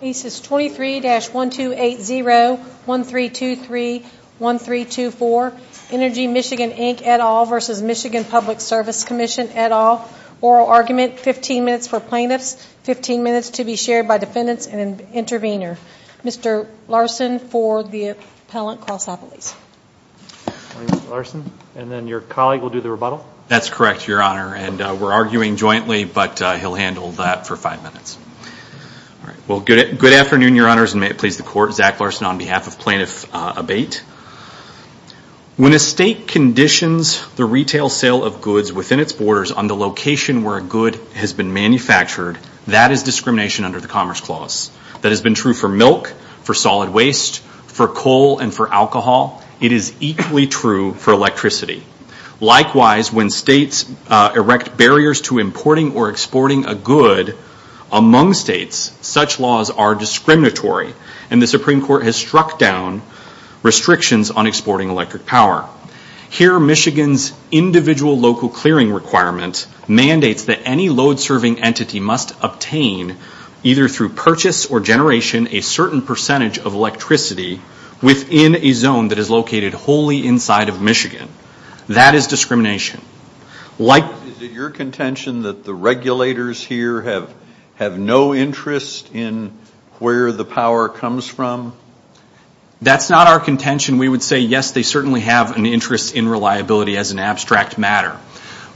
23-1280-1323-1324 Energy Michigan Inc. et al. v. Michigan Public Service Commission et al. Oral argument, 15 minutes for plaintiffs, 15 minutes to be shared by defendants, and an intervener. Mr. Larson for the appellant, Carl Sopolis. And then your colleague will do the rebuttal? That's correct, Your Honor, and we're arguing jointly, but he'll handle that for five minutes. Well, good afternoon, Your Honors, and may it please the Court. Zach Larson on behalf of Plaintiff Abate. When a state conditions the retail sale of goods within its borders on the location where a good has been manufactured, that is discrimination under the Commerce Clause. That has been true for milk, for solid waste, for coal, and for alcohol. It is equally true for electricity. Likewise, when states erect barriers to importing or exporting a good among states, such laws are discriminatory, and the Supreme Court has struck down restrictions on exporting electric power. Here, Michigan's individual local clearing requirement mandates that any load-serving entity must obtain, either through purchase or generation, a certain percentage of electricity within a zone that is located wholly inside of Michigan. That is discrimination. Is it your contention that the regulators here have no interest in where the power comes from? That's not our contention. We would say, yes, they certainly have an interest in reliability as an abstract matter.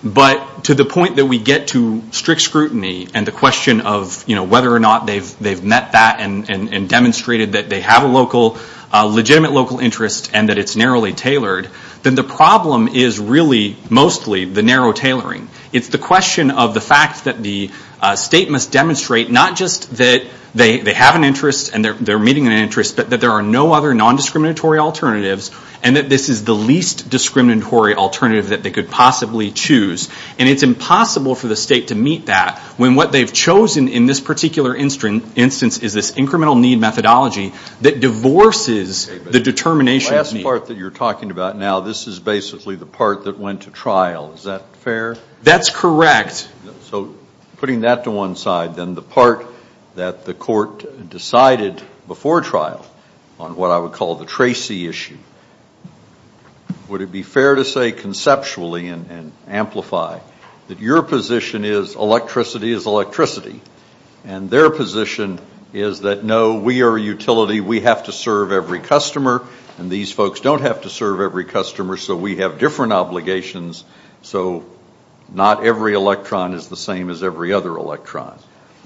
But to the point that we get to strict scrutiny and the question of whether or not they've met that and demonstrated that they have a legitimate local interest and that it's narrowly tailored, then the problem is really mostly the narrow tailoring. It's the question of the fact that the state must demonstrate not just that they have an interest and they're meeting an interest, but that there are no other nondiscriminatory alternatives and that this is the least discriminatory alternative that they could possibly choose. And it's impossible for the state to meet that when what they've chosen in this particular instance is this incremental need methodology that divorces the determination of need. The part that you're talking about now, this is basically the part that went to trial. Is that fair? That's correct. So putting that to one side, then the part that the court decided before trial on what I would call the Tracy issue, would it be fair to say conceptually and amplify that your position is electricity is electricity and their position is that, no, we are a utility. We have to serve every customer, and these folks don't have to serve every customer, so we have different obligations, so not every electron is the same as every other electron.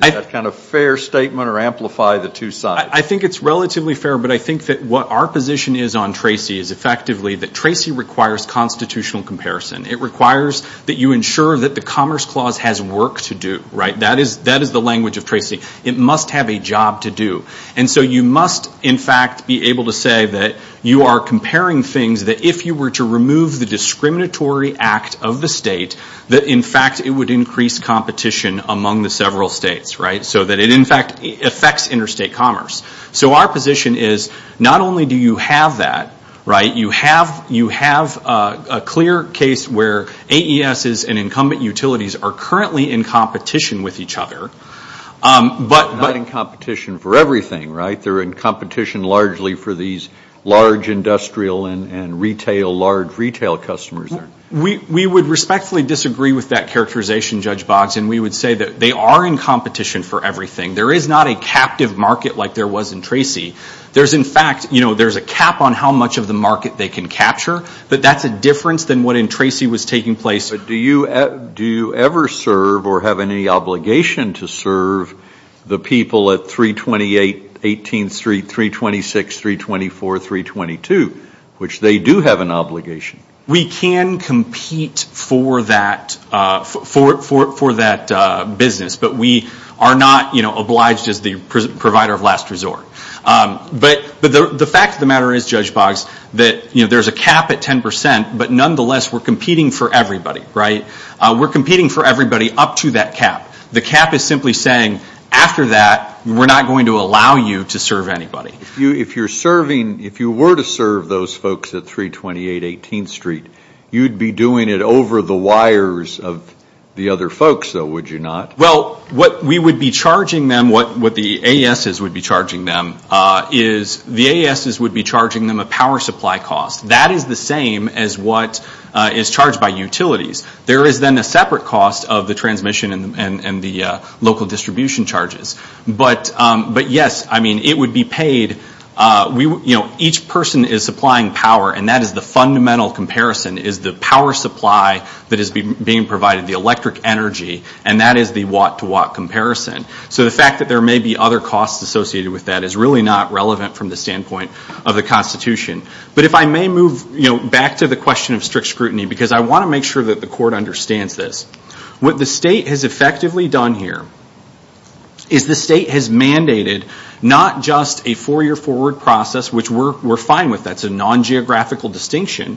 Is that kind of fair statement or amplify the two sides? I think it's relatively fair, but I think that what our position is on Tracy is effectively that Tracy requires constitutional comparison. It requires that you ensure that the Commerce Clause has work to do. That is the language of Tracy. It must have a job to do. And so you must, in fact, be able to say that you are comparing things, that if you were to remove the discriminatory act of the state, that, in fact, it would increase competition among the several states, so that it, in fact, affects interstate commerce. So our position is not only do you have that, you have a clear case where AESs and incumbent utilities are currently in competition with each other. They're not in competition for everything, right? They're in competition largely for these large industrial and retail, large retail customers. We would respectfully disagree with that characterization, Judge Boggs, and we would say that they are in competition for everything. There is not a captive market like there was in Tracy. There's, in fact, you know, there's a cap on how much of the market they can capture, but that's a difference than what in Tracy was taking place. But do you ever serve or have any obligation to serve the people at 328, 18th Street, 326, 324, 322, which they do have an obligation? We can compete for that business, but we are not, you know, obliged as the provider of last resort. But the fact of the matter is, Judge Boggs, that, you know, there's a cap at 10%, but nonetheless, we're competing for everybody, right? We're competing for everybody up to that cap. The cap is simply saying, after that, we're not going to allow you to serve anybody. If you're serving, if you were to serve those folks at 328, 18th Street, you'd be doing it over the wires of the other folks, though, would you not? Well, what we would be charging them, what the AESs would be charging them, is the AESs would be charging them a power supply cost. That is the same as what is charged by utilities. There is then a separate cost of the transmission and the local distribution charges. But, yes, I mean, it would be paid. You know, each person is supplying power, and that is the fundamental comparison, is the power supply that is being provided, the electric energy, and that is the watt-to-watt comparison. So the fact that there may be other costs associated with that is really not relevant from the standpoint of the Constitution. But if I may move back to the question of strict scrutiny, because I want to make sure that the court understands this, what the state has effectively done here is the state has mandated not just a four-year forward process, which we're fine with, that's a non-geographical distinction,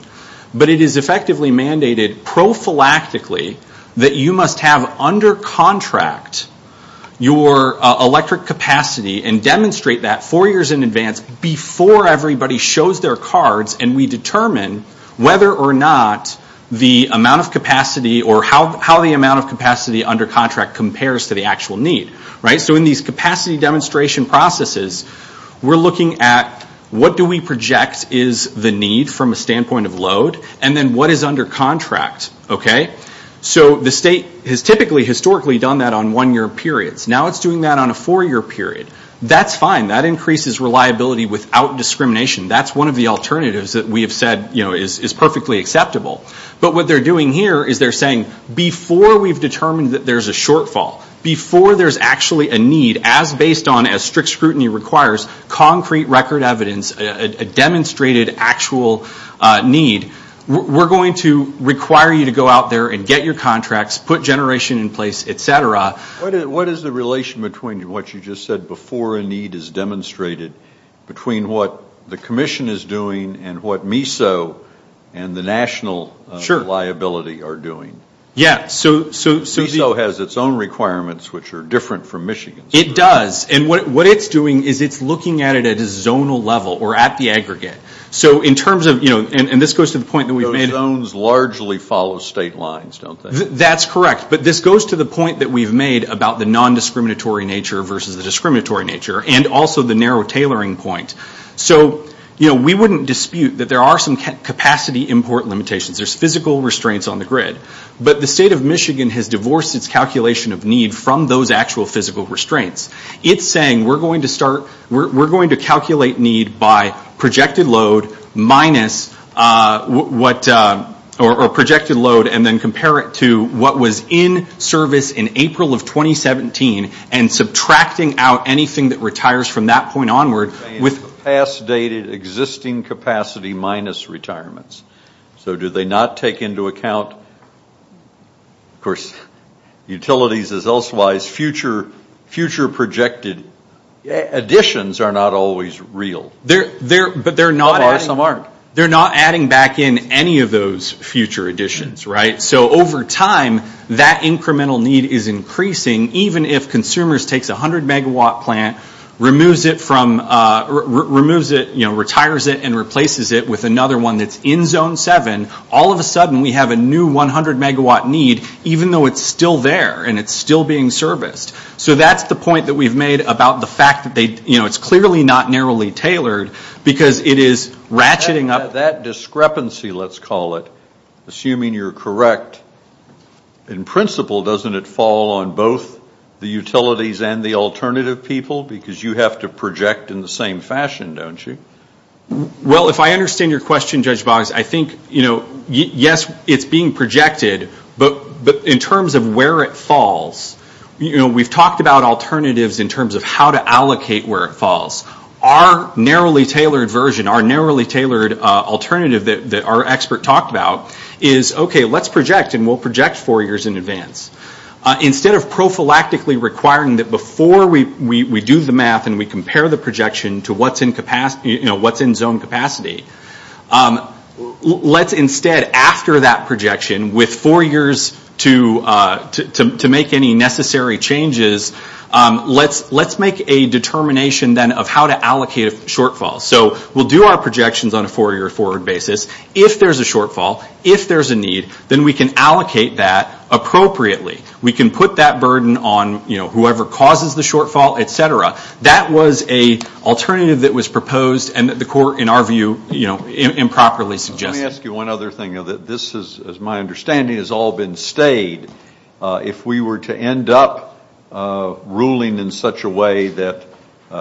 but it is effectively mandated prophylactically that you must have under contract your electric capacity and demonstrate that four years in advance before everybody shows their cards and we determine whether or not the amount of capacity or how the amount of capacity under contract compares to the actual need. So in these capacity demonstration processes, we're looking at what do we project is the need from a standpoint of load, and then what is under contract. So the state has typically historically done that on one-year periods. Now it's doing that on a four-year period. That's fine. That increases reliability without discrimination. That's one of the alternatives that we have said is perfectly acceptable. But what they're doing here is they're saying before we've determined that there's a shortfall, before there's actually a need as based on, as strict scrutiny requires, concrete record evidence, a demonstrated actual need, we're going to require you to go out there and get your contracts, put generation in place, et cetera. What is the relation between what you just said before a need is demonstrated, between what the commission is doing and what MISO and the national liability are doing? Yeah. MISO has its own requirements, which are different from Michigan's. It does. And what it's doing is it's looking at it at a zonal level or at the aggregate. So in terms of, you know, and this goes to the point that we've made. Those zones largely follow state lines, don't they? That's correct. But this goes to the point that we've made about the nondiscriminatory nature versus the discriminatory nature and also the narrow tailoring point. So, you know, we wouldn't dispute that there are some capacity import limitations. There's physical restraints on the grid. But the state of Michigan has divorced its calculation of need from those actual physical restraints. It's saying we're going to start, we're going to calculate need by projected load minus what, or projected load and then compare it to what was in service in April of 2017 and subtracting out anything that retires from that point onward with. Past dated existing capacity minus retirements. So do they not take into account, of course, utilities as well as future projected additions are not always real. They're, but they're not. Some are, some aren't. They're not adding back in any of those future additions, right? So over time, that incremental need is increasing even if consumers takes a 100 megawatt plant, removes it from, removes it, you know, retires it and replaces it with another one that's in zone 7. All of a sudden we have a new 100 megawatt need even though it's still there and it's still being serviced. So that's the point that we've made about the fact that they, you know, it's clearly not narrowly tailored because it is ratcheting up. That discrepancy, let's call it, assuming you're correct, in principle doesn't it fall on both the utilities and the alternative people because you have to project in the same fashion, don't you? Well, if I understand your question, Judge Boggs, I think, you know, yes, it's being projected, but in terms of where it falls, you know, we've talked about alternatives in terms of how to allocate where it falls. Our narrowly tailored version, our narrowly tailored alternative that our expert talked about is, okay, let's project and we'll project four years in advance. Instead of prophylactically requiring that before we do the math and we compare the projection to what's in capacity, you know, what's in zone capacity, let's instead, after that projection, with four years to make any necessary changes, let's make a determination then of how to allocate a shortfall. So we'll do our projections on a four-year forward basis. If there's a shortfall, if there's a need, then we can allocate that appropriately. We can put that burden on, you know, whoever causes the shortfall, et cetera. That was an alternative that was proposed and that the court, in our view, you know, improperly suggested. Let me ask you one other thing. This is, as my understanding, has all been stayed. If we were to end up ruling in such a way that,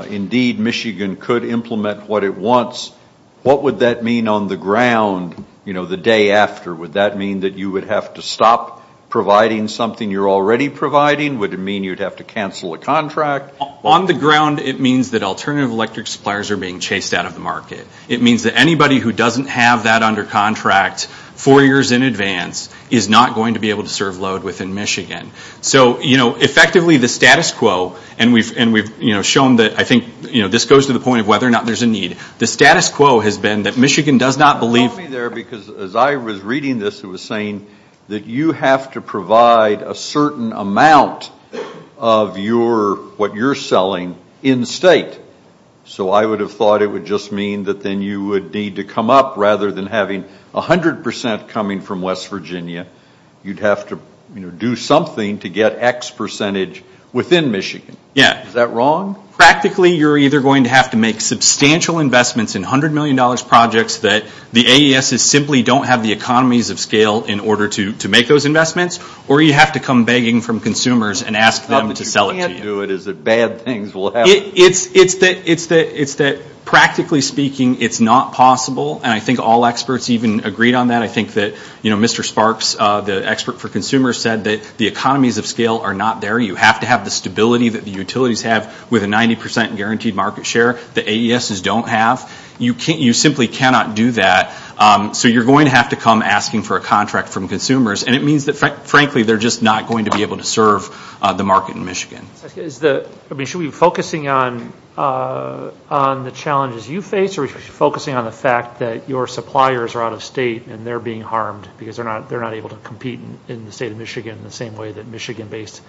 indeed, Michigan could implement what it wants, what would that mean on the ground, you know, the day after? Would that mean that you would have to stop providing something you're already providing? Would it mean you'd have to cancel a contract? On the ground, it means that alternative electric suppliers are being chased out of the market. It means that anybody who doesn't have that under contract four years in advance is not going to be able to serve load within Michigan. So, you know, effectively, the status quo, and we've, you know, shown that, I think, you know, this goes to the point of whether or not there's a need, the status quo has been that Michigan does not believe as I was reading this, it was saying that you have to provide a certain amount of your, what you're selling in state. So I would have thought it would just mean that then you would need to come up, rather than having 100% coming from West Virginia. You'd have to, you know, do something to get X percentage within Michigan. Yeah. Is that wrong? Practically, you're either going to have to make substantial investments in $100 million projects that the AESs simply don't have the economies of scale in order to make those investments, or you have to come begging from consumers and ask them to sell it to you. The thought that you can't do it is that bad things will happen. It's that practically speaking, it's not possible, and I think all experts even agreed on that. I think that, you know, Mr. Sparks, the expert for consumers, said that the economies of scale are not there. You have to have the stability that the utilities have with a 90% guaranteed market share that AESs don't have. You simply cannot do that. So you're going to have to come asking for a contract from consumers, and it means that frankly they're just not going to be able to serve the market in Michigan. Should we be focusing on the challenges you face or should we be focusing on the fact that your suppliers are out of state and they're being harmed because they're not able to compete in the state of Michigan the same way that Michigan-based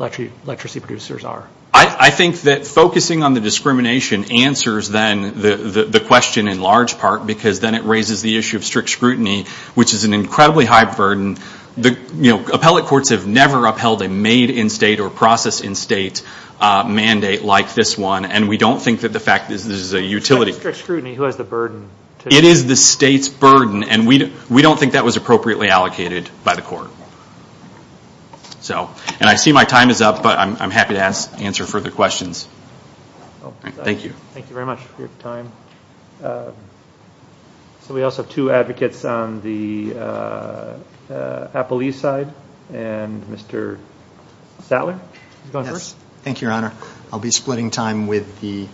electricity producers are? I think that focusing on the discrimination answers then the question in large part because then it raises the issue of strict scrutiny, which is an incredibly high burden. You know, appellate courts have never upheld a made-in-state or process-in-state mandate like this one, and we don't think that the fact that this is a utility... Strict scrutiny, who has the burden? It is the state's burden, and we don't think that was appropriately allocated by the court. And I see my time is up, but I'm happy to answer further questions. Thank you. Thank you very much for your time. So we also have two advocates on the appellee side, and Mr. Sattler is going first. Thank you, Your Honor. I'll be splitting time with the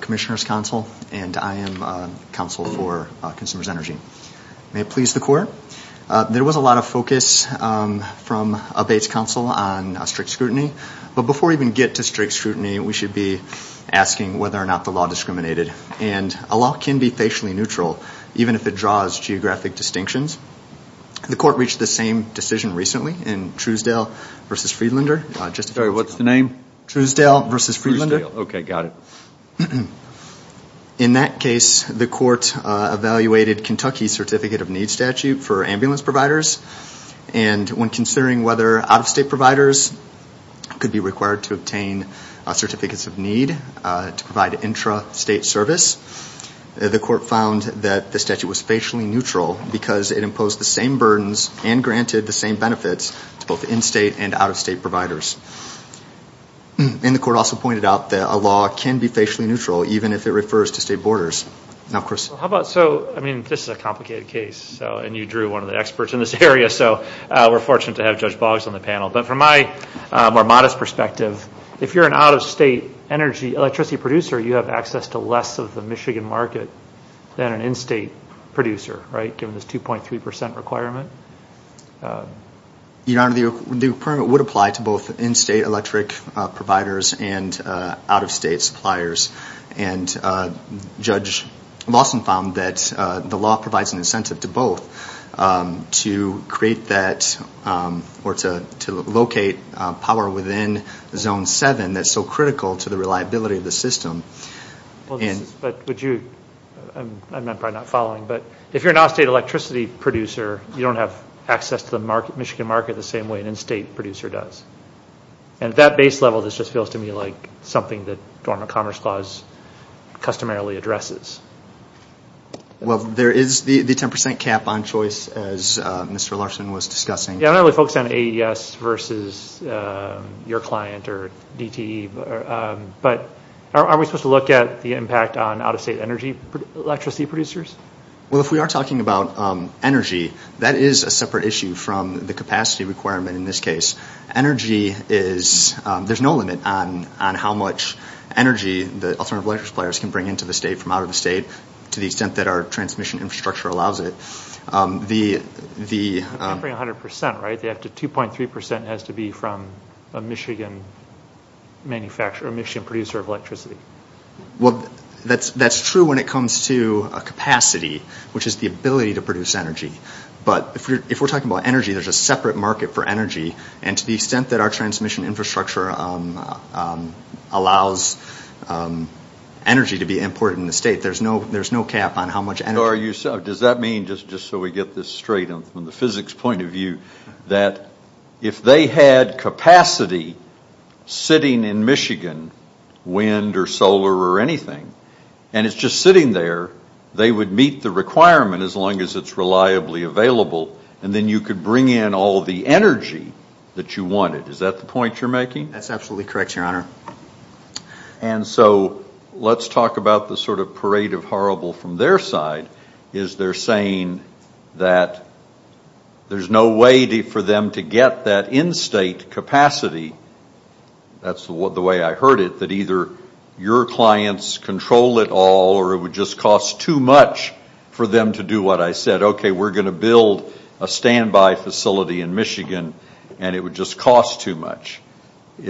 Commissioner's Council, and I am counsel for Consumers Energy. May it please the Court. There was a lot of focus from a base counsel on strict scrutiny, but before we even get to strict scrutiny, we should be asking whether or not the law discriminated. And a law can be facially neutral, even if it draws geographic distinctions. The Court reached the same decision recently in Truesdale v. Friedlander. Sorry, what's the name? Truesdale v. Friedlander. Truesdale, okay, got it. In that case, the Court evaluated Kentucky's Certificate of Need statute for ambulance providers, and when considering whether out-of-state providers could be required to obtain certificates of need to provide intra-state service, the Court found that the statute was facially neutral because it imposed the same burdens and granted the same benefits to both in-state and out-of-state providers. And the Court also pointed out that a law can be facially neutral, even if it refers to state borders. Now, Chris. How about, so, I mean, this is a complicated case, and you drew one of the experts in this area, so we're fortunate to have Judge Boggs on the panel. But from my more modest perspective, if you're an out-of-state electricity producer, you have access to less of the Michigan market than an in-state producer, right, given this 2.3 percent requirement? Your Honor, the requirement would apply to both in-state electric providers and out-of-state suppliers. And Judge Lawson found that the law provides an incentive to both to create that or to locate power within Zone 7 that's so critical to the reliability of the system. But would you, I'm probably not following, but if you're an out-of-state electricity producer, you don't have access to the Michigan market the same way an in-state producer does. And at that base level, this just feels to me like something that Dormant Commerce Clause customarily addresses. Well, there is the 10 percent cap on choice, as Mr. Larson was discussing. Yeah, I'm not really focused on AES versus your client or DTE, but are we supposed to look at the impact on out-of-state energy electricity producers? Well, if we are talking about energy, that is a separate issue from the capacity requirement in this case. Energy is, there's no limit on how much energy the alternative electricity suppliers can bring into the state from out of the state to the extent that our transmission infrastructure allows it. I'm remembering 100 percent, right? They have to, 2.3 percent has to be from a Michigan manufacturer, a Michigan producer of electricity. Well, that's true when it comes to a capacity, which is the ability to produce energy. But if we're talking about energy, there's a separate market for energy, and to the extent that our transmission infrastructure allows energy to be imported in the state, there's no cap on how much energy. So are you, does that mean, just so we get this straight from the physics point of view, that if they had capacity sitting in Michigan, wind or solar or anything, and it's just sitting there, they would meet the requirement as long as it's reliably available, and then you could bring in all the energy that you wanted. Is that the point you're making? That's absolutely correct, Your Honor. And so let's talk about the sort of parade of horrible from their side, is they're saying that there's no way for them to get that in-state capacity. That's the way I heard it, that either your clients control it all, or it would just cost too much for them to do what I said. Okay, we're going to build a standby facility in Michigan, and it would just cost too much. I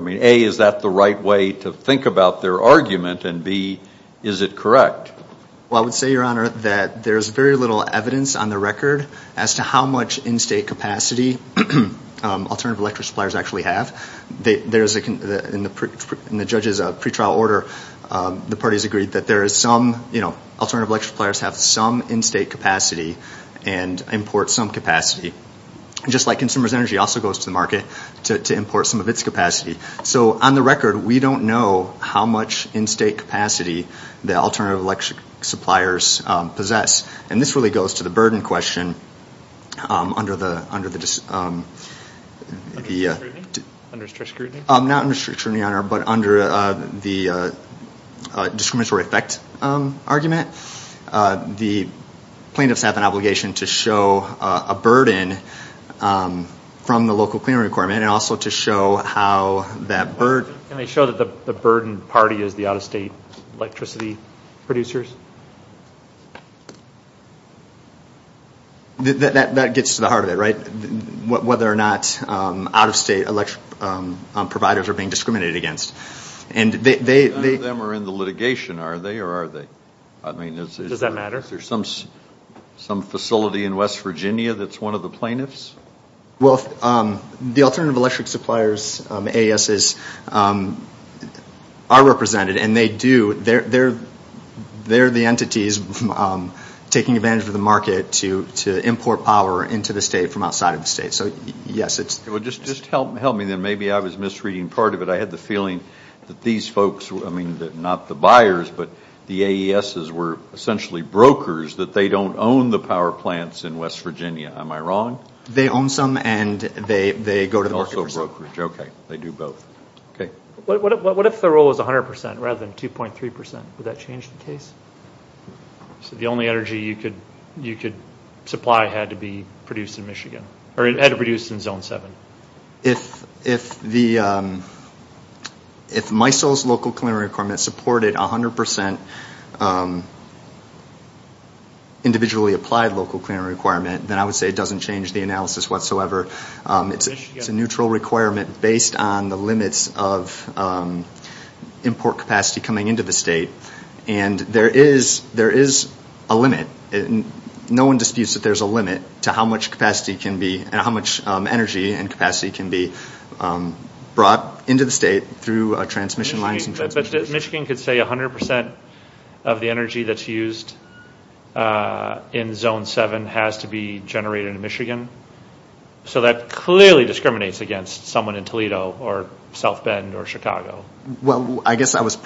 mean, A, is that the right way to think about their argument, and B, is it correct? Well, I would say, Your Honor, that there's very little evidence on the record as to how much in-state capacity alternative electric suppliers actually have. In the judge's pretrial order, the parties agreed that there is some, you know, alternative electric suppliers have some in-state capacity and import some capacity. Just like consumers' energy also goes to the market to import some of its capacity. So on the record, we don't know how much in-state capacity the alternative electric suppliers possess, and this really goes to the burden question under the… Under strict scrutiny? Not under strict scrutiny, Your Honor, but under the discriminatory effect argument. The plaintiffs have an obligation to show a burden from the local cleaning requirement and also to show how that burden… Can they show that the burden party is the out-of-state electricity producers? That gets to the heart of it, right? Whether or not out-of-state electric providers are being discriminated against. None of them are in the litigation, are they, or are they? Does that matter? Is there some facility in West Virginia that's one of the plaintiffs? Well, the alternative electric suppliers, ASs, are represented, and they do. They're the entities taking advantage of the market to import power into the state from outside of the state. So, yes, it's… Well, just help me then. Maybe I was misreading part of it. I had the feeling that these folks were, I mean, not the buyers, but the AESs were essentially brokers, that they don't own the power plants in West Virginia. Am I wrong? They own some, and they go to the market for some. Also brokerage. Okay. They do both. Okay. What if the rule was 100% rather than 2.3%? Would that change the case? So the only energy you could supply had to be produced in Michigan, or it had to be produced in Zone 7. If MISO's local cleaner requirement supported 100% individually applied local cleaner requirement, then I would say it doesn't change the analysis whatsoever. It's a neutral requirement based on the limits of import capacity coming into the state. And there is a limit. No one disputes that there's a limit to how much capacity can be and how much energy and capacity can be brought into the state through transmission lines. But Michigan could say 100% of the energy that's used in Zone 7 has to be generated in Michigan. So that clearly discriminates against someone in Toledo or South Bend or Chicago. Well, I guess I was…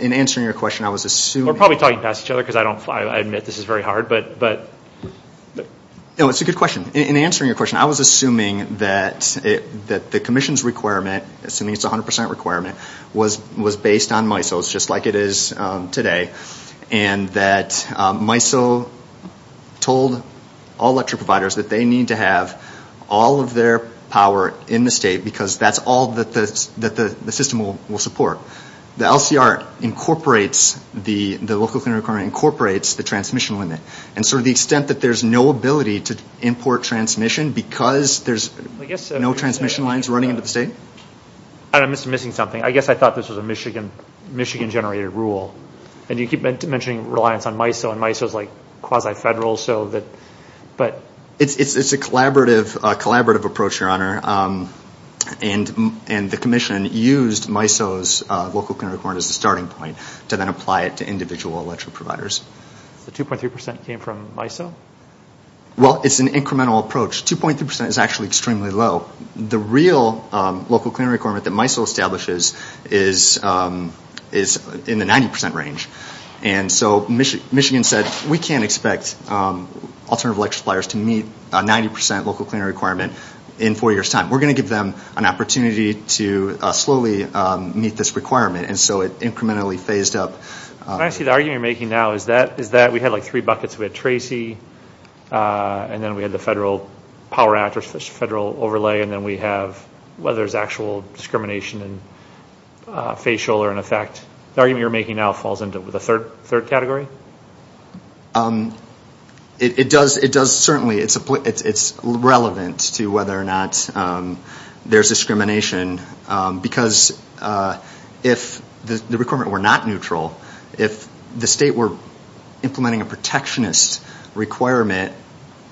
In answering your question, I was assuming… I admit this is very hard, but… No, it's a good question. In answering your question, I was assuming that the commission's requirement, assuming it's a 100% requirement, was based on MISO's, just like it is today, and that MISO told all electric providers that they need to have all of their power in the state because that's all that the system will support. The LCR incorporates the local clean requirement, incorporates the transmission limit. And so to the extent that there's no ability to import transmission because there's no transmission lines running into the state? I'm missing something. I guess I thought this was a Michigan-generated rule. And you keep mentioning reliance on MISO, and MISO's like quasi-federal, so that… It's a collaborative approach, Your Honor. And the commission used MISO's local clean requirement as a starting point to then apply it to individual electric providers. The 2.3% came from MISO? Well, it's an incremental approach. 2.3% is actually extremely low. The real local clean requirement that MISO establishes is in the 90% range. And so Michigan said, We can't expect alternative electric suppliers to meet a 90% local clean requirement in four years' time. We're going to give them an opportunity to slowly meet this requirement. And so it incrementally phased up. I see the argument you're making now is that we had, like, three buckets. We had Tracy, and then we had the Federal Power Act, or Federal Overlay, and then we have whether there's actual discrimination in facial or in effect. The argument you're making now falls into the third category? It does, certainly. It's relevant to whether or not there's discrimination, because if the requirement were not neutral, if the state were implementing a protectionist requirement,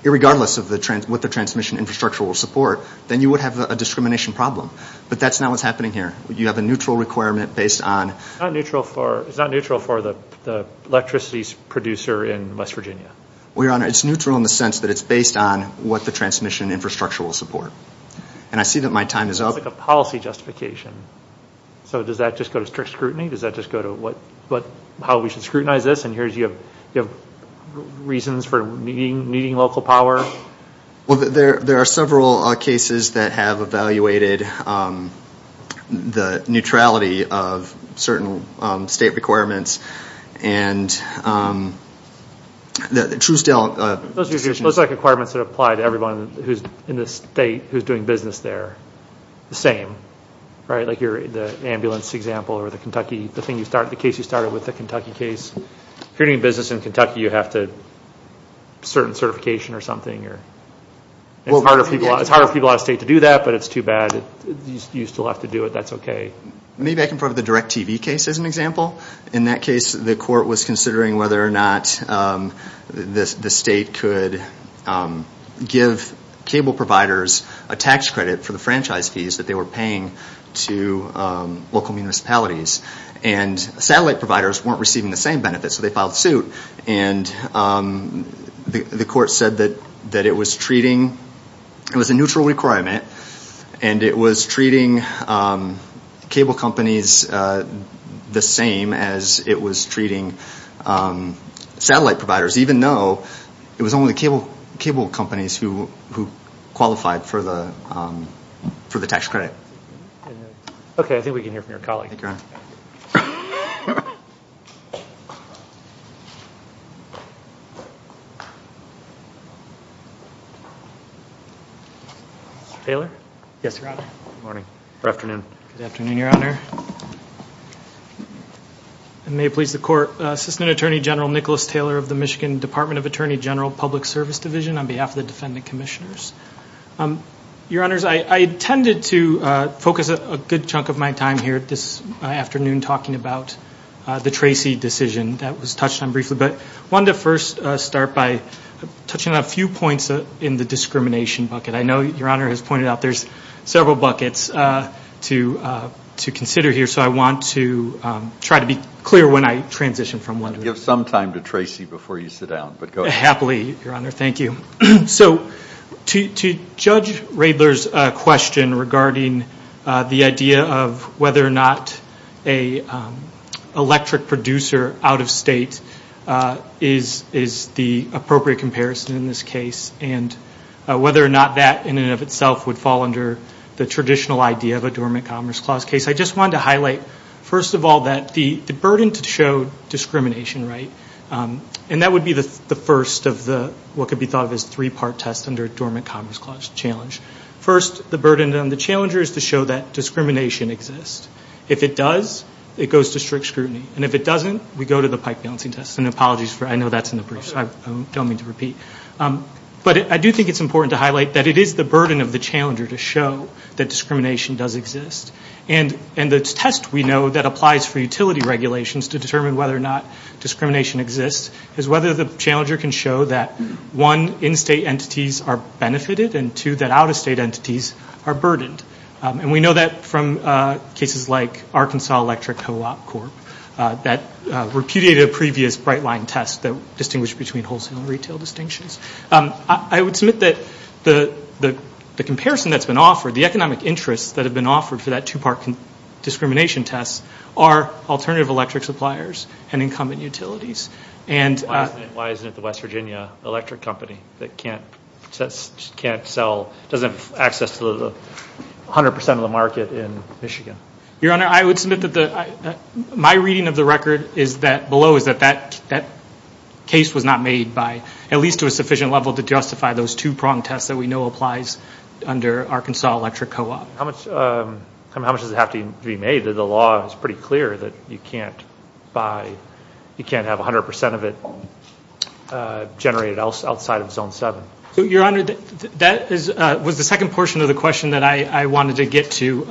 regardless of what the transmission infrastructure will support, then you would have a discrimination problem. But that's not what's happening here. You have a neutral requirement based on. It's not neutral for the electricity producer in West Virginia. Well, Your Honor, it's neutral in the sense that it's based on what the transmission infrastructure will support. And I see that my time is up. It's like a policy justification. So does that just go to strict scrutiny? Does that just go to how we should scrutinize this, and here you have reasons for meeting local power? Well, there are several cases that have evaluated the neutrality of certain state requirements. And the TrueStell... Those are requirements that apply to everyone who's in the state who's doing business there. The same, right? Like the ambulance example or the Kentucky, the case you started with, the Kentucky case. If you're doing business in Kentucky, you have to... Certain certification or something. It's harder for people out of state to do that, but it's too bad. You still have to do it. That's okay. Maybe I can put the DirecTV case as an example. In that case, the court was considering whether or not the state could give cable providers a tax credit for the franchise fees that they were paying to local municipalities. And satellite providers weren't receiving the same benefits, so they filed suit. And the court said that it was treating... It was a neutral requirement, and it was treating cable companies the same as it was treating satellite providers, even though it was only cable companies who qualified for the tax credit. Okay. I think we can hear from your colleague. Thank you, Your Honor. Taylor? Yes, Your Honor. Good morning or afternoon. Good afternoon, Your Honor. And may it please the court, Assistant Attorney General Nicholas Taylor of the Michigan Department of Attorney General Public Service Division on behalf of the defendant commissioners. Your Honors, I intended to focus a good chunk of my time here this afternoon talking about the Tracy decision. That was touched on briefly. But I wanted to first start by touching on a few points in the discrimination bucket. I know Your Honor has pointed out there's several buckets to consider here, so I want to try to be clear when I transition from one to the other. Give some time to Tracy before you sit down, but go ahead. Happily, Your Honor. Thank you. So to judge Radler's question regarding the idea of whether or not an electric producer out of state is the appropriate comparison in this case and whether or not that in and of itself would fall under the traditional idea of a dormant commerce clause case, I just wanted to highlight, first of all, that the burden to show discrimination, right, and that would be the first of what could be thought of as three-part tests under a dormant commerce clause challenge. First, the burden on the challenger is to show that discrimination exists. If it does, it goes to strict scrutiny. And if it doesn't, we go to the pike balancing test. And apologies, I know that's in the brief, so I don't mean to repeat. But I do think it's important to highlight that it is the burden of the challenger to show that discrimination does exist. And the test we know that applies for utility regulations to determine whether or not discrimination exists is whether the challenger can show that, one, in-state entities are benefited and, two, that out-of-state entities are burdened. And we know that from cases like Arkansas Electric Co-op Corp that repudiated a previous bright-line test that distinguished between wholesale and retail distinctions. I would submit that the comparison that's been offered, the economic interests that have been offered for that two-part discrimination test, are alternative electric suppliers and incumbent utilities. Why isn't it the West Virginia Electric Company that can't sell, doesn't have access to 100 percent of the market in Michigan? Your Honor, I would submit that my reading of the record below is that that case was not made by, at least to a sufficient level, to justify those two-pronged tests that we know applies under Arkansas Electric Co-op. How much does it have to be made that the law is pretty clear that you can't buy, you can't have 100 percent of it generated outside of Zone 7? Your Honor, that was the second portion of the question that I wanted to get to.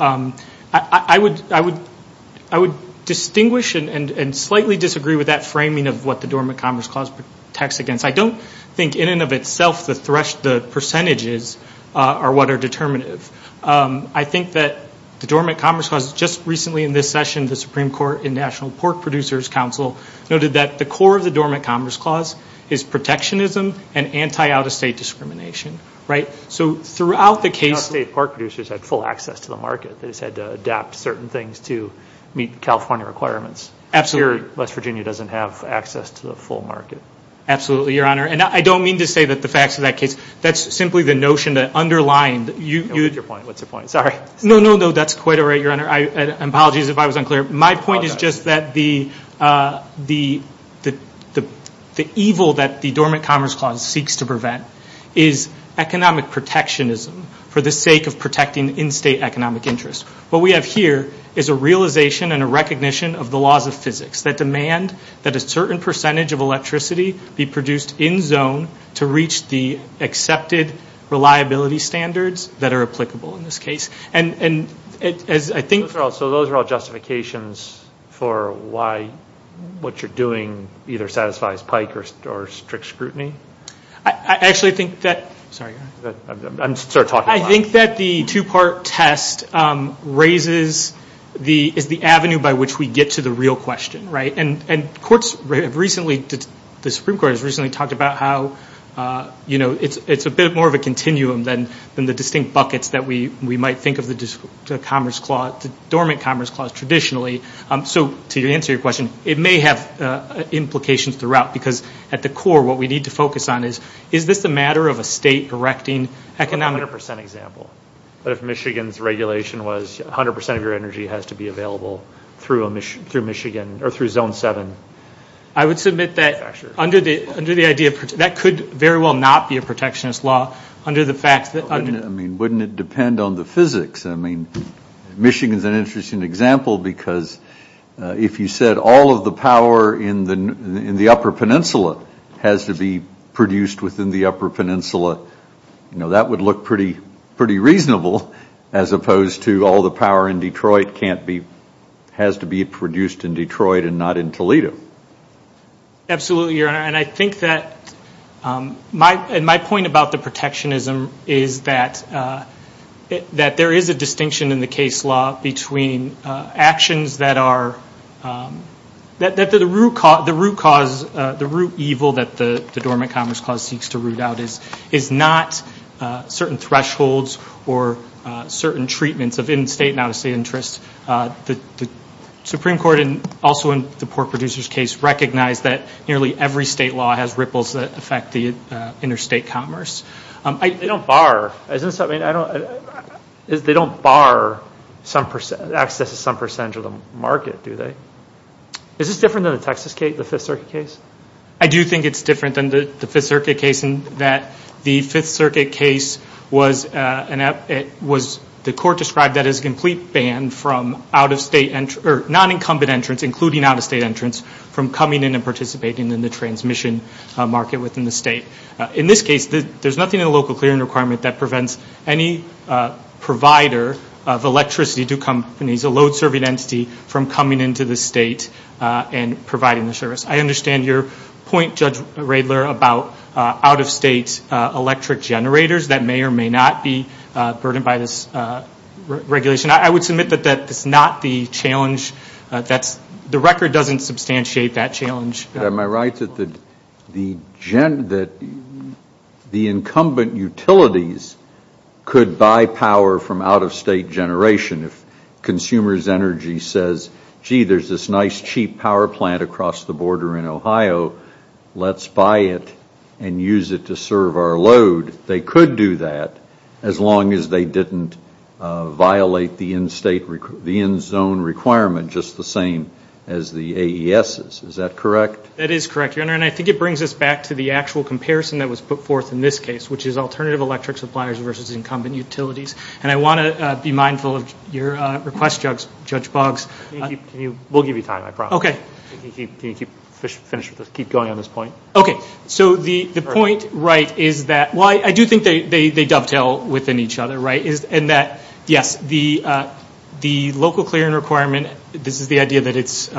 I would distinguish and slightly disagree with that framing of what the Dormant Commerce Clause protects against. I don't think in and of itself the percentages are what are determinative. I think that the Dormant Commerce Clause, just recently in this session, the Supreme Court and National Pork Producers Council noted that the core of the Dormant Commerce Clause is protectionism and anti-out-of-state discrimination. So throughout the case- Out-of-state pork producers had full access to the market. They just had to adapt certain things to meet California requirements. Absolutely. Here, West Virginia doesn't have access to the full market. Absolutely, Your Honor. And I don't mean to say that the facts of that case. That's simply the notion that underlined- What's your point? What's your point? Sorry. No, no, no. That's quite all right, Your Honor. Apologies if I was unclear. My point is just that the evil that the Dormant Commerce Clause seeks to prevent is economic protectionism for the sake of protecting in-state economic interest. What we have here is a realization and a recognition of the laws of physics that demand that a certain percentage of electricity be produced in-zone to reach the accepted reliability standards that are applicable in this case. And as I think- So those are all justifications for why what you're doing either satisfies Pike or strict scrutiny? I actually think that- Sorry, Your Honor. I'm sort of talking a lot. I think that the two-part test is the avenue by which we get to the real question, right? And the Supreme Court has recently talked about how it's a bit more of a continuum than the distinct buckets that we might think of the Dormant Commerce Clause traditionally. So to answer your question, it may have implications throughout because at the core what we need to focus on is, is this a matter of a state directing economic- It's a 100 percent example. But if Michigan's regulation was 100 percent of your energy has to be available through Michigan or through Zone 7, I would submit that under the idea- That could very well not be a protectionist law under the fact that- I mean, wouldn't it depend on the physics? I mean, Michigan's an interesting example because if you said all of the power in the upper peninsula has to be produced within the upper peninsula, that would look pretty reasonable as opposed to all the power in Detroit has to be produced in Detroit and not in Toledo. Absolutely, Your Honor. And I think that- And my point about the protectionism is that there is a distinction in the case law between actions that are- that the root evil that the Dormant Commerce Clause seeks to root out is not certain thresholds or certain treatments of in-state and out-of-state interests. The Supreme Court, and also in the Pork Producers case, recognized that nearly every state law has ripples that affect the interstate commerce. They don't bar- They don't bar access to some percentage of the market, do they? Is this different than the Texas case, the Fifth Circuit case? I do think it's different than the Fifth Circuit case in that the Fifth Circuit case was- the court described that as a complete ban from out-of-state- or non-incumbent entrants, including out-of-state entrants, from coming in and participating in the transmission market within the state. In this case, there's nothing in the local clearing requirement that prevents any provider of electricity to companies, a load-serving entity, from coming into the state and providing the service. I understand your point, Judge Radler, about out-of-state electric generators. That may or may not be burdened by this regulation. I would submit that that is not the challenge that's- the record doesn't substantiate that challenge. Am I right that the incumbent utilities could buy power from out-of-state generation if consumers' energy says, gee, there's this nice, cheap power plant across the border in Ohio. Let's buy it and use it to serve our load. They could do that as long as they didn't violate the in-state- the in-zone requirement just the same as the AESs. Is that correct? That is correct, Your Honor. And I think it brings us back to the actual comparison that was put forth in this case, which is alternative electric suppliers versus incumbent utilities. And I want to be mindful of your request, Judge Boggs. We'll give you time, I promise. Okay. Can you keep going on this point? Okay. So the point, right, is that- well, I do think they dovetail within each other, right, and that, yes, the local clearing requirement, this is the idea that it's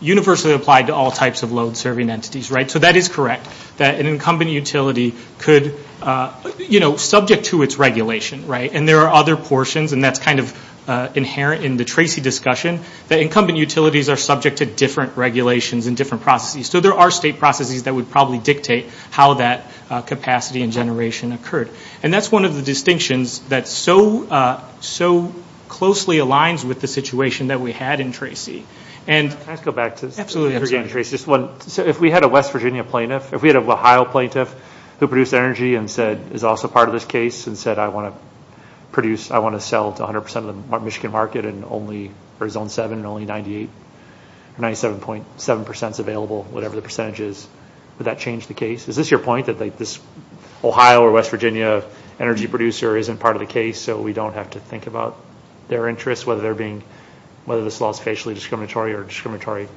universally applied to all types of load-serving entities, right? So that is correct, that an incumbent utility could, you know, subject to its regulation, right? And there are other portions, and that's kind of inherent in the Tracy discussion, that incumbent utilities are subject to different regulations and different processes. So there are state processes that would probably dictate how that capacity and generation occurred. And that's one of the distinctions that so closely aligns with the situation that we had in Tracy. And- Can I just go back to- Absolutely. If we had a West Virginia plaintiff, if we had an Ohio plaintiff who produced energy and said is also part of this case and said, I want to produce, I want to sell to 100% of the Michigan market and only for Zone 7 and only 98, 97.7% is available, whatever the percentage is, would that change the case? Is this your point, that this Ohio or West Virginia energy producer isn't part of the case, so we don't have to think about their interests, whether they're being, whether this law is facially discriminatory or discriminatory,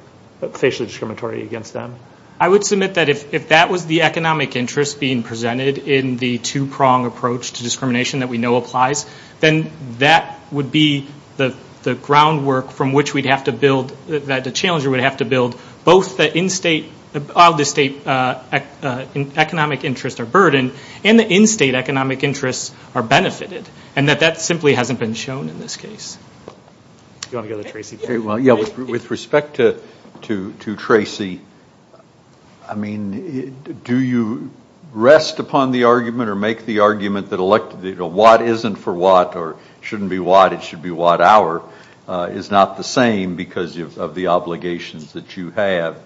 facially discriminatory against them? I would submit that if that was the economic interest being presented in the two-prong approach to discrimination that we know applies, then that would be the groundwork from which we'd have to build, that the challenger would have to build both the in-state, the state economic interest or burden and the in-state economic interests are benefited, and that that simply hasn't been shown in this case. Do you want to go to Tracy? Well, yeah, with respect to Tracy, I mean, do you rest upon the argument or make the argument that what isn't for what or shouldn't be what, it should be what, is not the same because of the obligations that you have?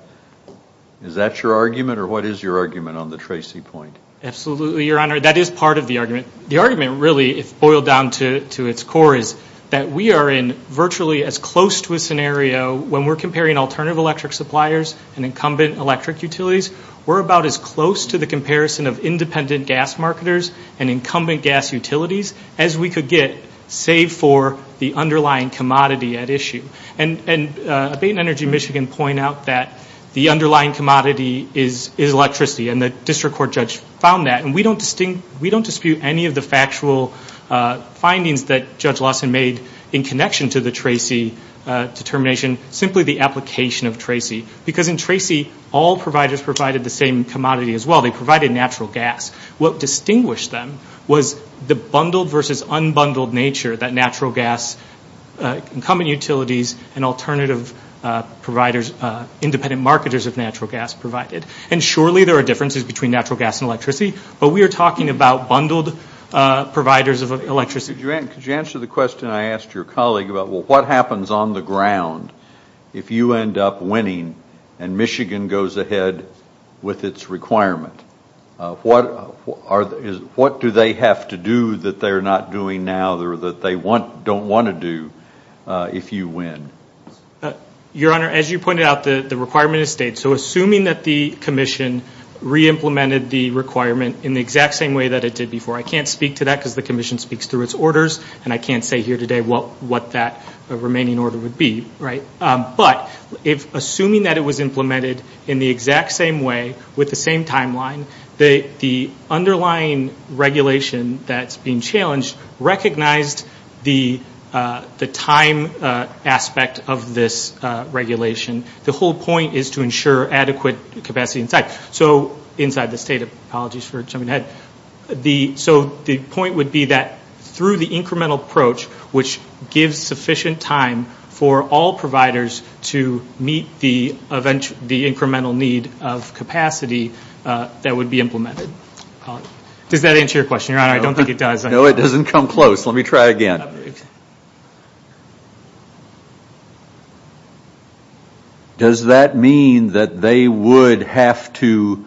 Is that your argument, or what is your argument on the Tracy point? Absolutely, Your Honor. That is part of the argument. The argument, really, if boiled down to its core, is that we are in virtually as close to a scenario when we're comparing alternative electric suppliers and incumbent electric utilities, we're about as close to the comparison of independent gas marketers and incumbent gas utilities as we could get, save for the underlying commodity at issue. And Bain Energy Michigan point out that the underlying commodity is electricity, and the district court judge found that, and we don't dispute any of the factual findings that Judge Lawson made in connection to the Tracy determination, simply the application of Tracy, because in Tracy, all providers provided the same commodity as well. They provided natural gas. What distinguished them was the bundled versus unbundled nature that natural gas, incumbent utilities, and alternative providers, independent marketers of natural gas provided. And surely there are differences between natural gas and electricity, but we are talking about bundled providers of electricity. Could you answer the question I asked your colleague about what happens on the ground if you end up winning and Michigan goes ahead with its requirement? What do they have to do that they're not doing now or that they don't want to do if you win? Your Honor, as you pointed out, the requirement has stayed. So assuming that the commission re-implemented the requirement in the exact same way that it did before, I can't speak to that because the commission speaks through its orders, and I can't say here today what that remaining order would be, right? But assuming that it was implemented in the exact same way with the same timeline, the underlying regulation that's being challenged recognized the time aspect of this regulation. The whole point is to ensure adequate capacity inside. So inside the state of apologies for jumping ahead. So the point would be that through the incremental approach, which gives sufficient time for all providers to meet the incremental need of capacity that would be implemented. Does that answer your question, Your Honor? I don't think it does. No, it doesn't come close. Let me try again. Does that mean that they would have to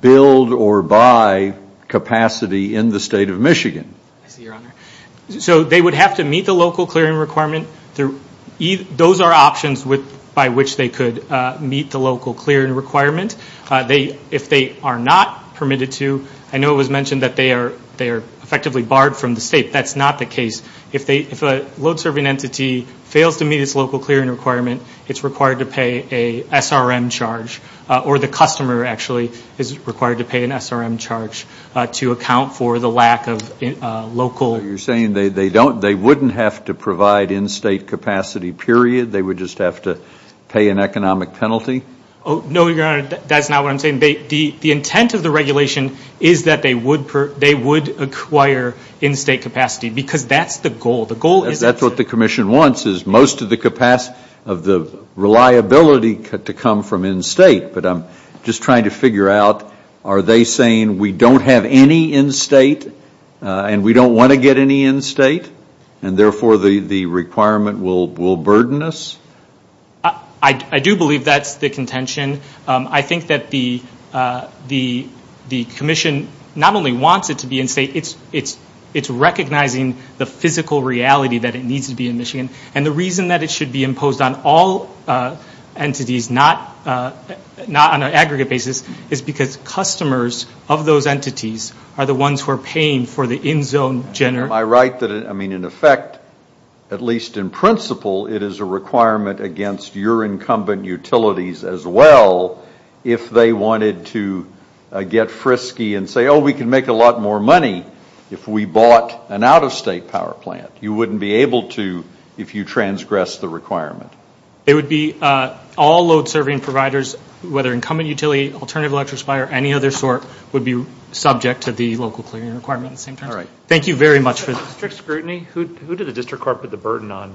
build or buy capacity in the state of Michigan? So they would have to meet the local clearing requirement. Those are options by which they could meet the local clearing requirement. If they are not permitted to, I know it was mentioned that they are effectively barred from the state. That's not the case. If a load serving entity fails to meet its local clearing requirement, it's required to pay an SRM charge, or the customer actually is required to pay an SRM charge to account for the lack of local. So you're saying they wouldn't have to provide in-state capacity, period, they would just have to pay an economic penalty? No, Your Honor, that's not what I'm saying. The intent of the regulation is that they would acquire in-state capacity because that's the goal. That's what the commission wants is most of the capacity of the reliability to come from in-state, but I'm just trying to figure out are they saying we don't have any in-state and we don't want to get any in-state and, therefore, the requirement will burden us? I do believe that's the contention. I think that the commission not only wants it to be in-state, it's recognizing the physical reality that it needs to be in Michigan, and the reason that it should be imposed on all entities, not on an aggregate basis, is because customers of those entities are the ones who are paying for the in-zone. Am I right that, I mean, in effect, at least in principle, it is a requirement against your incumbent utilities as well if they wanted to get frisky and say, oh, we can make a lot more money if we bought an out-of-state power plant. You wouldn't be able to if you transgressed the requirement. It would be all load-serving providers, whether incumbent utility, alternative electric supplier, any other sort, would be subject to the local clearing requirement at the same time. All right. Thank you very much for that. Strict scrutiny? Who did the district court put the burden on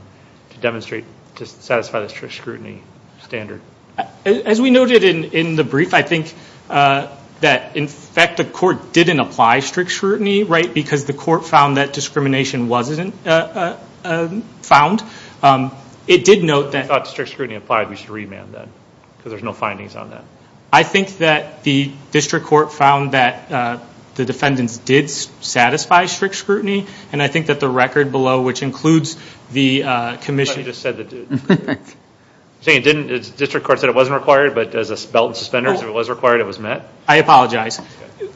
to demonstrate, to satisfy the strict scrutiny standard? As we noted in the brief, I think that, in fact, the court didn't apply strict scrutiny, right, because the court found that discrimination wasn't found. It did note that- If you thought strict scrutiny applied, we should remand that because there's no findings on that. I think that the district court found that the defendants did satisfy strict scrutiny, and I think that the record below, which includes the commission- But you just said that- Correct. You're saying the district court said it wasn't required, but as a belt and suspenders, if it was required, it was met? I apologize.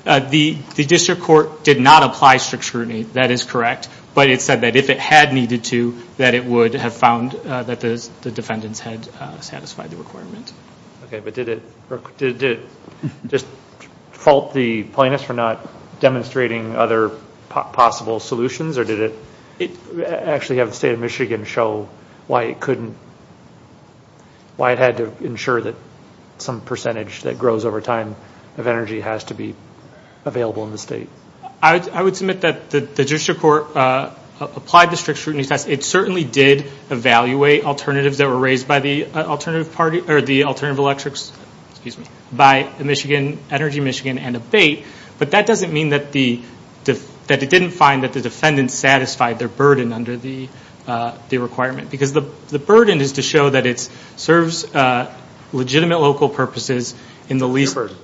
Okay. The district court did not apply strict scrutiny. That is correct, but it said that if it had needed to, that it would have found that the defendants had satisfied the requirement. Okay, but did it just fault the plaintiffs for not demonstrating other possible solutions, or did it actually have the state of Michigan show why it couldn't- why it had to ensure that some percentage that grows over time of energy has to be available in the state? I would submit that the district court applied the strict scrutiny test. It certainly did evaluate alternatives that were raised by the alternative party- or the alternative electrics- Excuse me. By Energy Michigan and ABATE, but that doesn't mean that it didn't find that the defendants satisfied their burden under the requirement, because the burden is to show that it serves legitimate local purposes in the least- Your burden.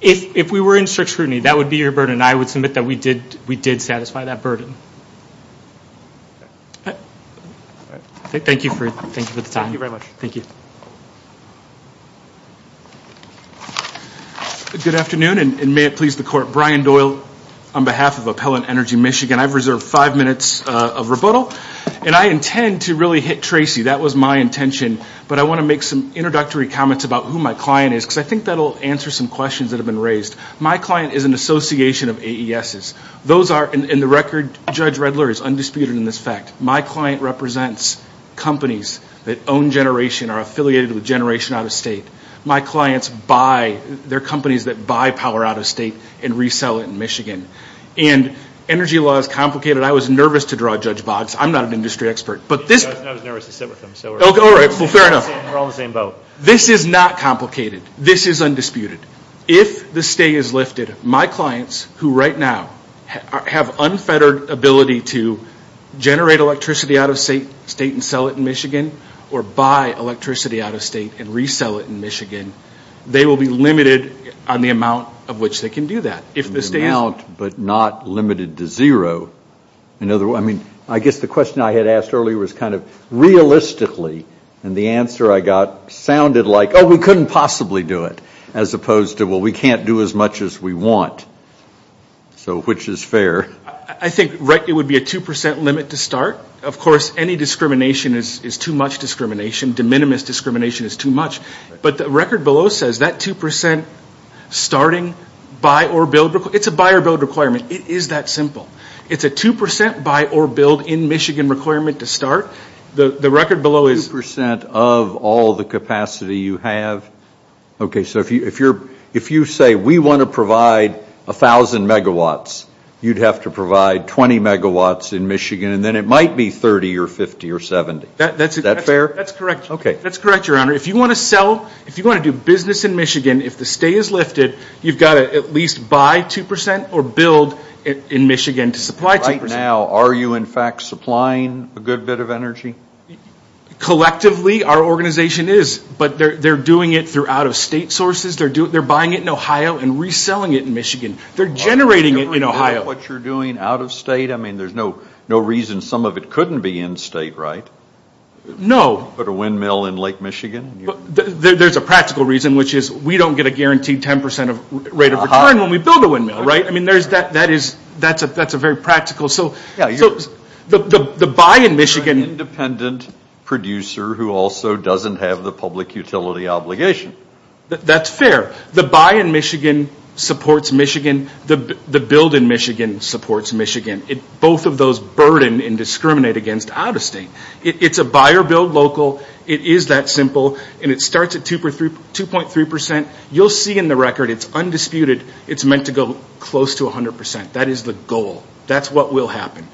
If we were in strict scrutiny, that would be your burden. And I would submit that we did satisfy that burden. Thank you for the time. Thank you very much. Thank you. Good afternoon, and may it please the court. Brian Doyle on behalf of Appellant Energy Michigan. I've reserved five minutes of rebuttal, and I intend to really hit Tracy. That was my intention, but I want to make some introductory comments about who my client is, because I think that will answer some questions that have been raised. My client is an association of AESs. Those are-and the record, Judge Redler, is undisputed in this fact. My client represents companies that own generation, are affiliated with generation out-of-state. My clients buy-they're companies that buy power out-of-state and resell it in Michigan. And energy law is complicated. I was nervous to draw Judge Boggs. I'm not an industry expert, but this- I was nervous to sit with him, so we're all in the same boat. This is not complicated. This is undisputed. If the stay is lifted, my clients, who right now have unfettered ability to generate electricity out-of-state and sell it in Michigan or buy electricity out-of-state and resell it in Michigan, they will be limited on the amount of which they can do that. If the stay is- The amount, but not limited to zero. I mean, I guess the question I had asked earlier was kind of realistically, and the answer I got sounded like, oh, we couldn't possibly do it, as opposed to, well, we can't do as much as we want, which is fair. I think it would be a 2% limit to start. Of course, any discrimination is too much discrimination. De minimis discrimination is too much. But the record below says that 2% starting buy or build- It's a buy or build requirement. It is that simple. It's a 2% buy or build in Michigan requirement to start. The record below is- 2% of all the capacity you have. Okay, so if you say we want to provide 1,000 megawatts, you'd have to provide 20 megawatts in Michigan, and then it might be 30 or 50 or 70. Is that fair? That's correct. Okay. That's correct, Your Honor. If you want to do business in Michigan, if the stay is lifted, you've got to at least buy 2% or build in Michigan to supply 2%. Right now, are you, in fact, supplying a good bit of energy? Collectively, our organization is, but they're doing it through out-of-state sources. They're buying it in Ohio and reselling it in Michigan. They're generating it in Ohio. Are you doing what you're doing out-of-state? I mean, there's no reason some of it couldn't be in-state, right? No. Put a windmill in Lake Michigan. There's a practical reason, which is we don't get a guaranteed 10% rate of return when we build a windmill, right? I mean, that's a very practical. The buy in Michigan. You're an independent producer who also doesn't have the public utility obligation. That's fair. The buy in Michigan supports Michigan. The build in Michigan supports Michigan. Both of those burden and discriminate against out-of-state. It's a buy or build local. It is that simple, and it starts at 2.3%. You'll see in the record it's undisputed. It's meant to go close to 100%. That is the goal. That's what will happen.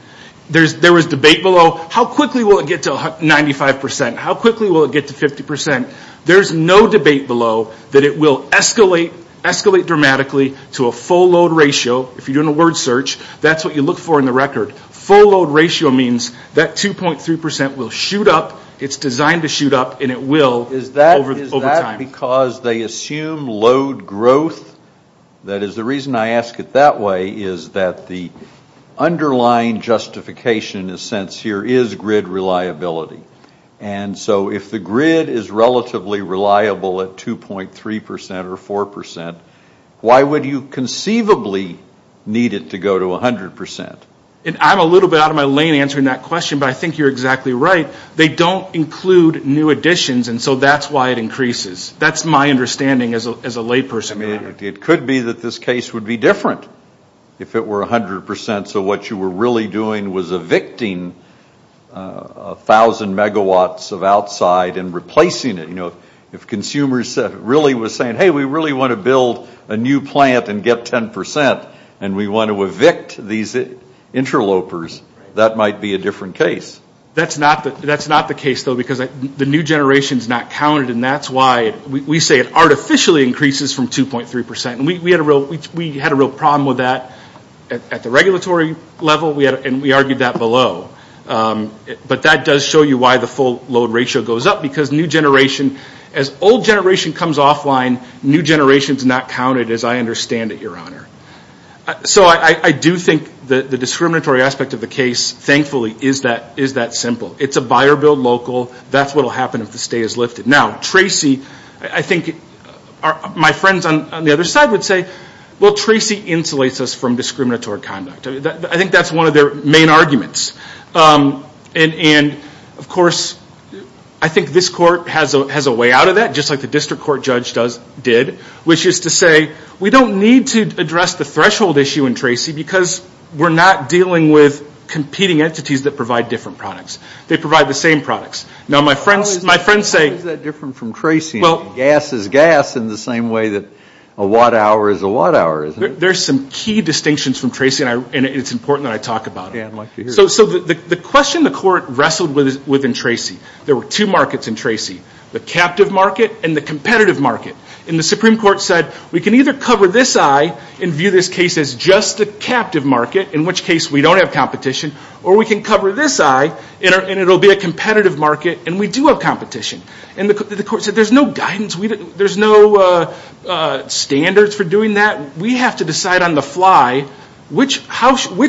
There was debate below. How quickly will it get to 95%? How quickly will it get to 50%? There's no debate below that it will escalate dramatically to a full load ratio. If you're doing a word search, that's what you look for in the record. Full load ratio means that 2.3% will shoot up. It's designed to shoot up, and it will over time. Because they assume load growth, that is the reason I ask it that way, is that the underlying justification in a sense here is grid reliability. So if the grid is relatively reliable at 2.3% or 4%, why would you conceivably need it to go to 100%? I'm a little bit out of my lane answering that question, but I think you're exactly right. They don't include new additions, and so that's why it increases. That's my understanding as a layperson. It could be that this case would be different if it were 100%. So what you were really doing was evicting 1,000 megawatts of outside and replacing it. If consumers really were saying, hey, we really want to build a new plant and get 10%, and we want to evict these interlopers, that might be a different case. That's not the case, though, because the new generation is not counted, and that's why we say it artificially increases from 2.3%. We had a real problem with that at the regulatory level, and we argued that below. But that does show you why the full load ratio goes up, because new generation, as old generation comes offline, new generation is not counted as I understand it, Your Honor. So I do think the discriminatory aspect of the case, thankfully, is that simple. It's a buyer-billed local. That's what will happen if the stay is lifted. Now, Tracy, I think my friends on the other side would say, well, Tracy insulates us from discriminatory conduct. I think that's one of their main arguments. And, of course, I think this court has a way out of that, just like the district court judge did, which is to say we don't need to address the threshold issue in Tracy because we're not dealing with competing entities that provide different products. They provide the same products. Now, my friends say – How is that different from Tracy? Gas is gas in the same way that a watt-hour is a watt-hour, isn't it? There's some key distinctions from Tracy, and it's important that I talk about them. Yeah, I'd like to hear it. So the question the court wrestled with in Tracy, there were two markets in Tracy, the captive market and the competitive market. And the Supreme Court said we can either cover this eye and view this case as just the captive market, in which case we don't have competition, or we can cover this eye and it will be a competitive market and we do have competition. And the court said there's no guidance. There's no standards for doing that. We have to decide on the fly which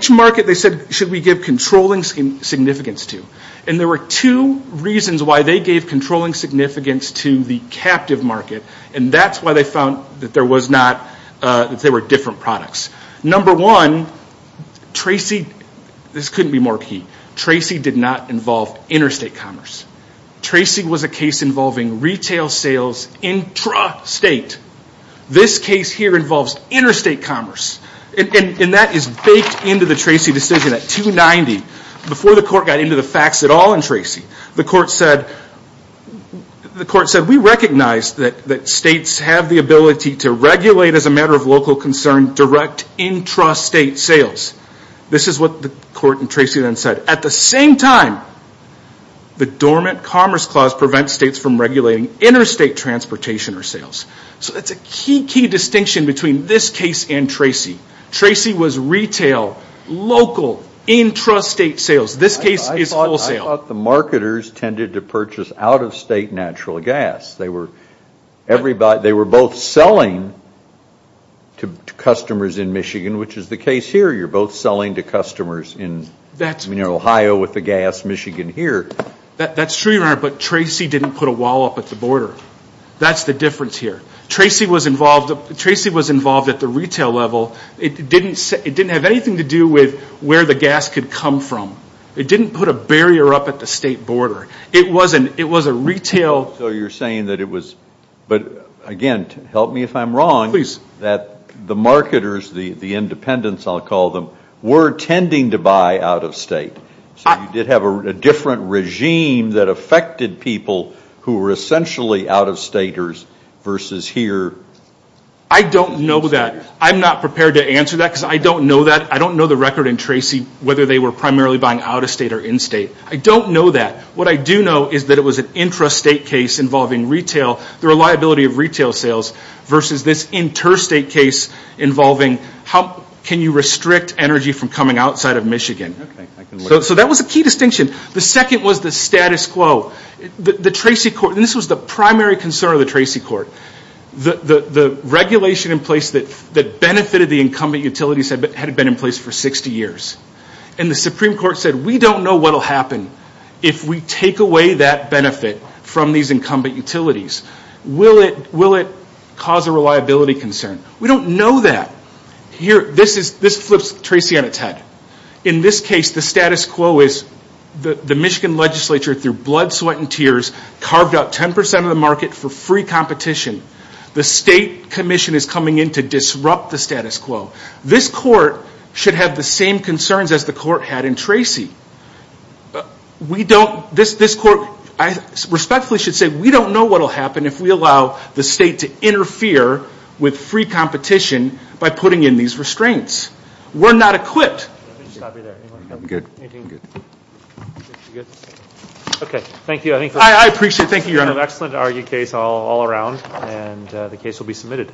market they said should we give controlling significance to. And there were two reasons why they gave controlling significance to the captive market, and that's why they found that there were different products. Number one, Tracy – this couldn't be more key. Tracy did not involve interstate commerce. Tracy was a case involving retail sales intrastate. This case here involves interstate commerce. And that is baked into the Tracy decision at 290. Before the court got into the facts at all in Tracy, the court said, we recognize that states have the ability to regulate as a matter of local concern direct intrastate sales. This is what the court in Tracy then said. At the same time, the dormant commerce clause prevents states from regulating interstate transportation or sales. So that's a key, key distinction between this case and Tracy. Tracy was retail, local, intrastate sales. This case is wholesale. I thought the marketers tended to purchase out-of-state natural gas. They were both selling to customers in Michigan, which is the case here. You're both selling to customers in Ohio with the gas, Michigan here. That's true, Your Honor, but Tracy didn't put a wall up at the border. That's the difference here. Tracy was involved at the retail level. It didn't have anything to do with where the gas could come from. It didn't put a barrier up at the state border. It was a retail. So you're saying that it was, but again, help me if I'm wrong. Please. That the marketers, the independents I'll call them, were tending to buy out-of-state. So you did have a different regime that affected people who were essentially out-of-staters versus here. I don't know that. I'm not prepared to answer that because I don't know that. I don't know the record in Tracy whether they were primarily buying out-of-state or in-state. I don't know that. What I do know is that it was an intrastate case involving retail, the reliability of retail sales, versus this interstate case involving how can you restrict energy from coming outside of Michigan. So that was a key distinction. The second was the status quo. The Tracy court, and this was the primary concern of the Tracy court, the regulation in place that benefited the incumbent utilities had been in place for 60 years. And the Supreme Court said we don't know what will happen if we take away that benefit from these incumbent utilities. Will it cause a reliability concern? We don't know that. This flips Tracy on its head. In this case, the status quo is the Michigan legislature, through blood, sweat, and tears, carved out 10% of the market for free competition. The state commission is coming in to disrupt the status quo. This court should have the same concerns as the court had in Tracy. This court, I respectfully should say, we don't know what will happen if we allow the state to interfere with free competition by putting in these restraints. We're not equipped. Okay, thank you. I appreciate it. Thank you, Your Honor. We have an excellent argued case all around, and the case will be submitted.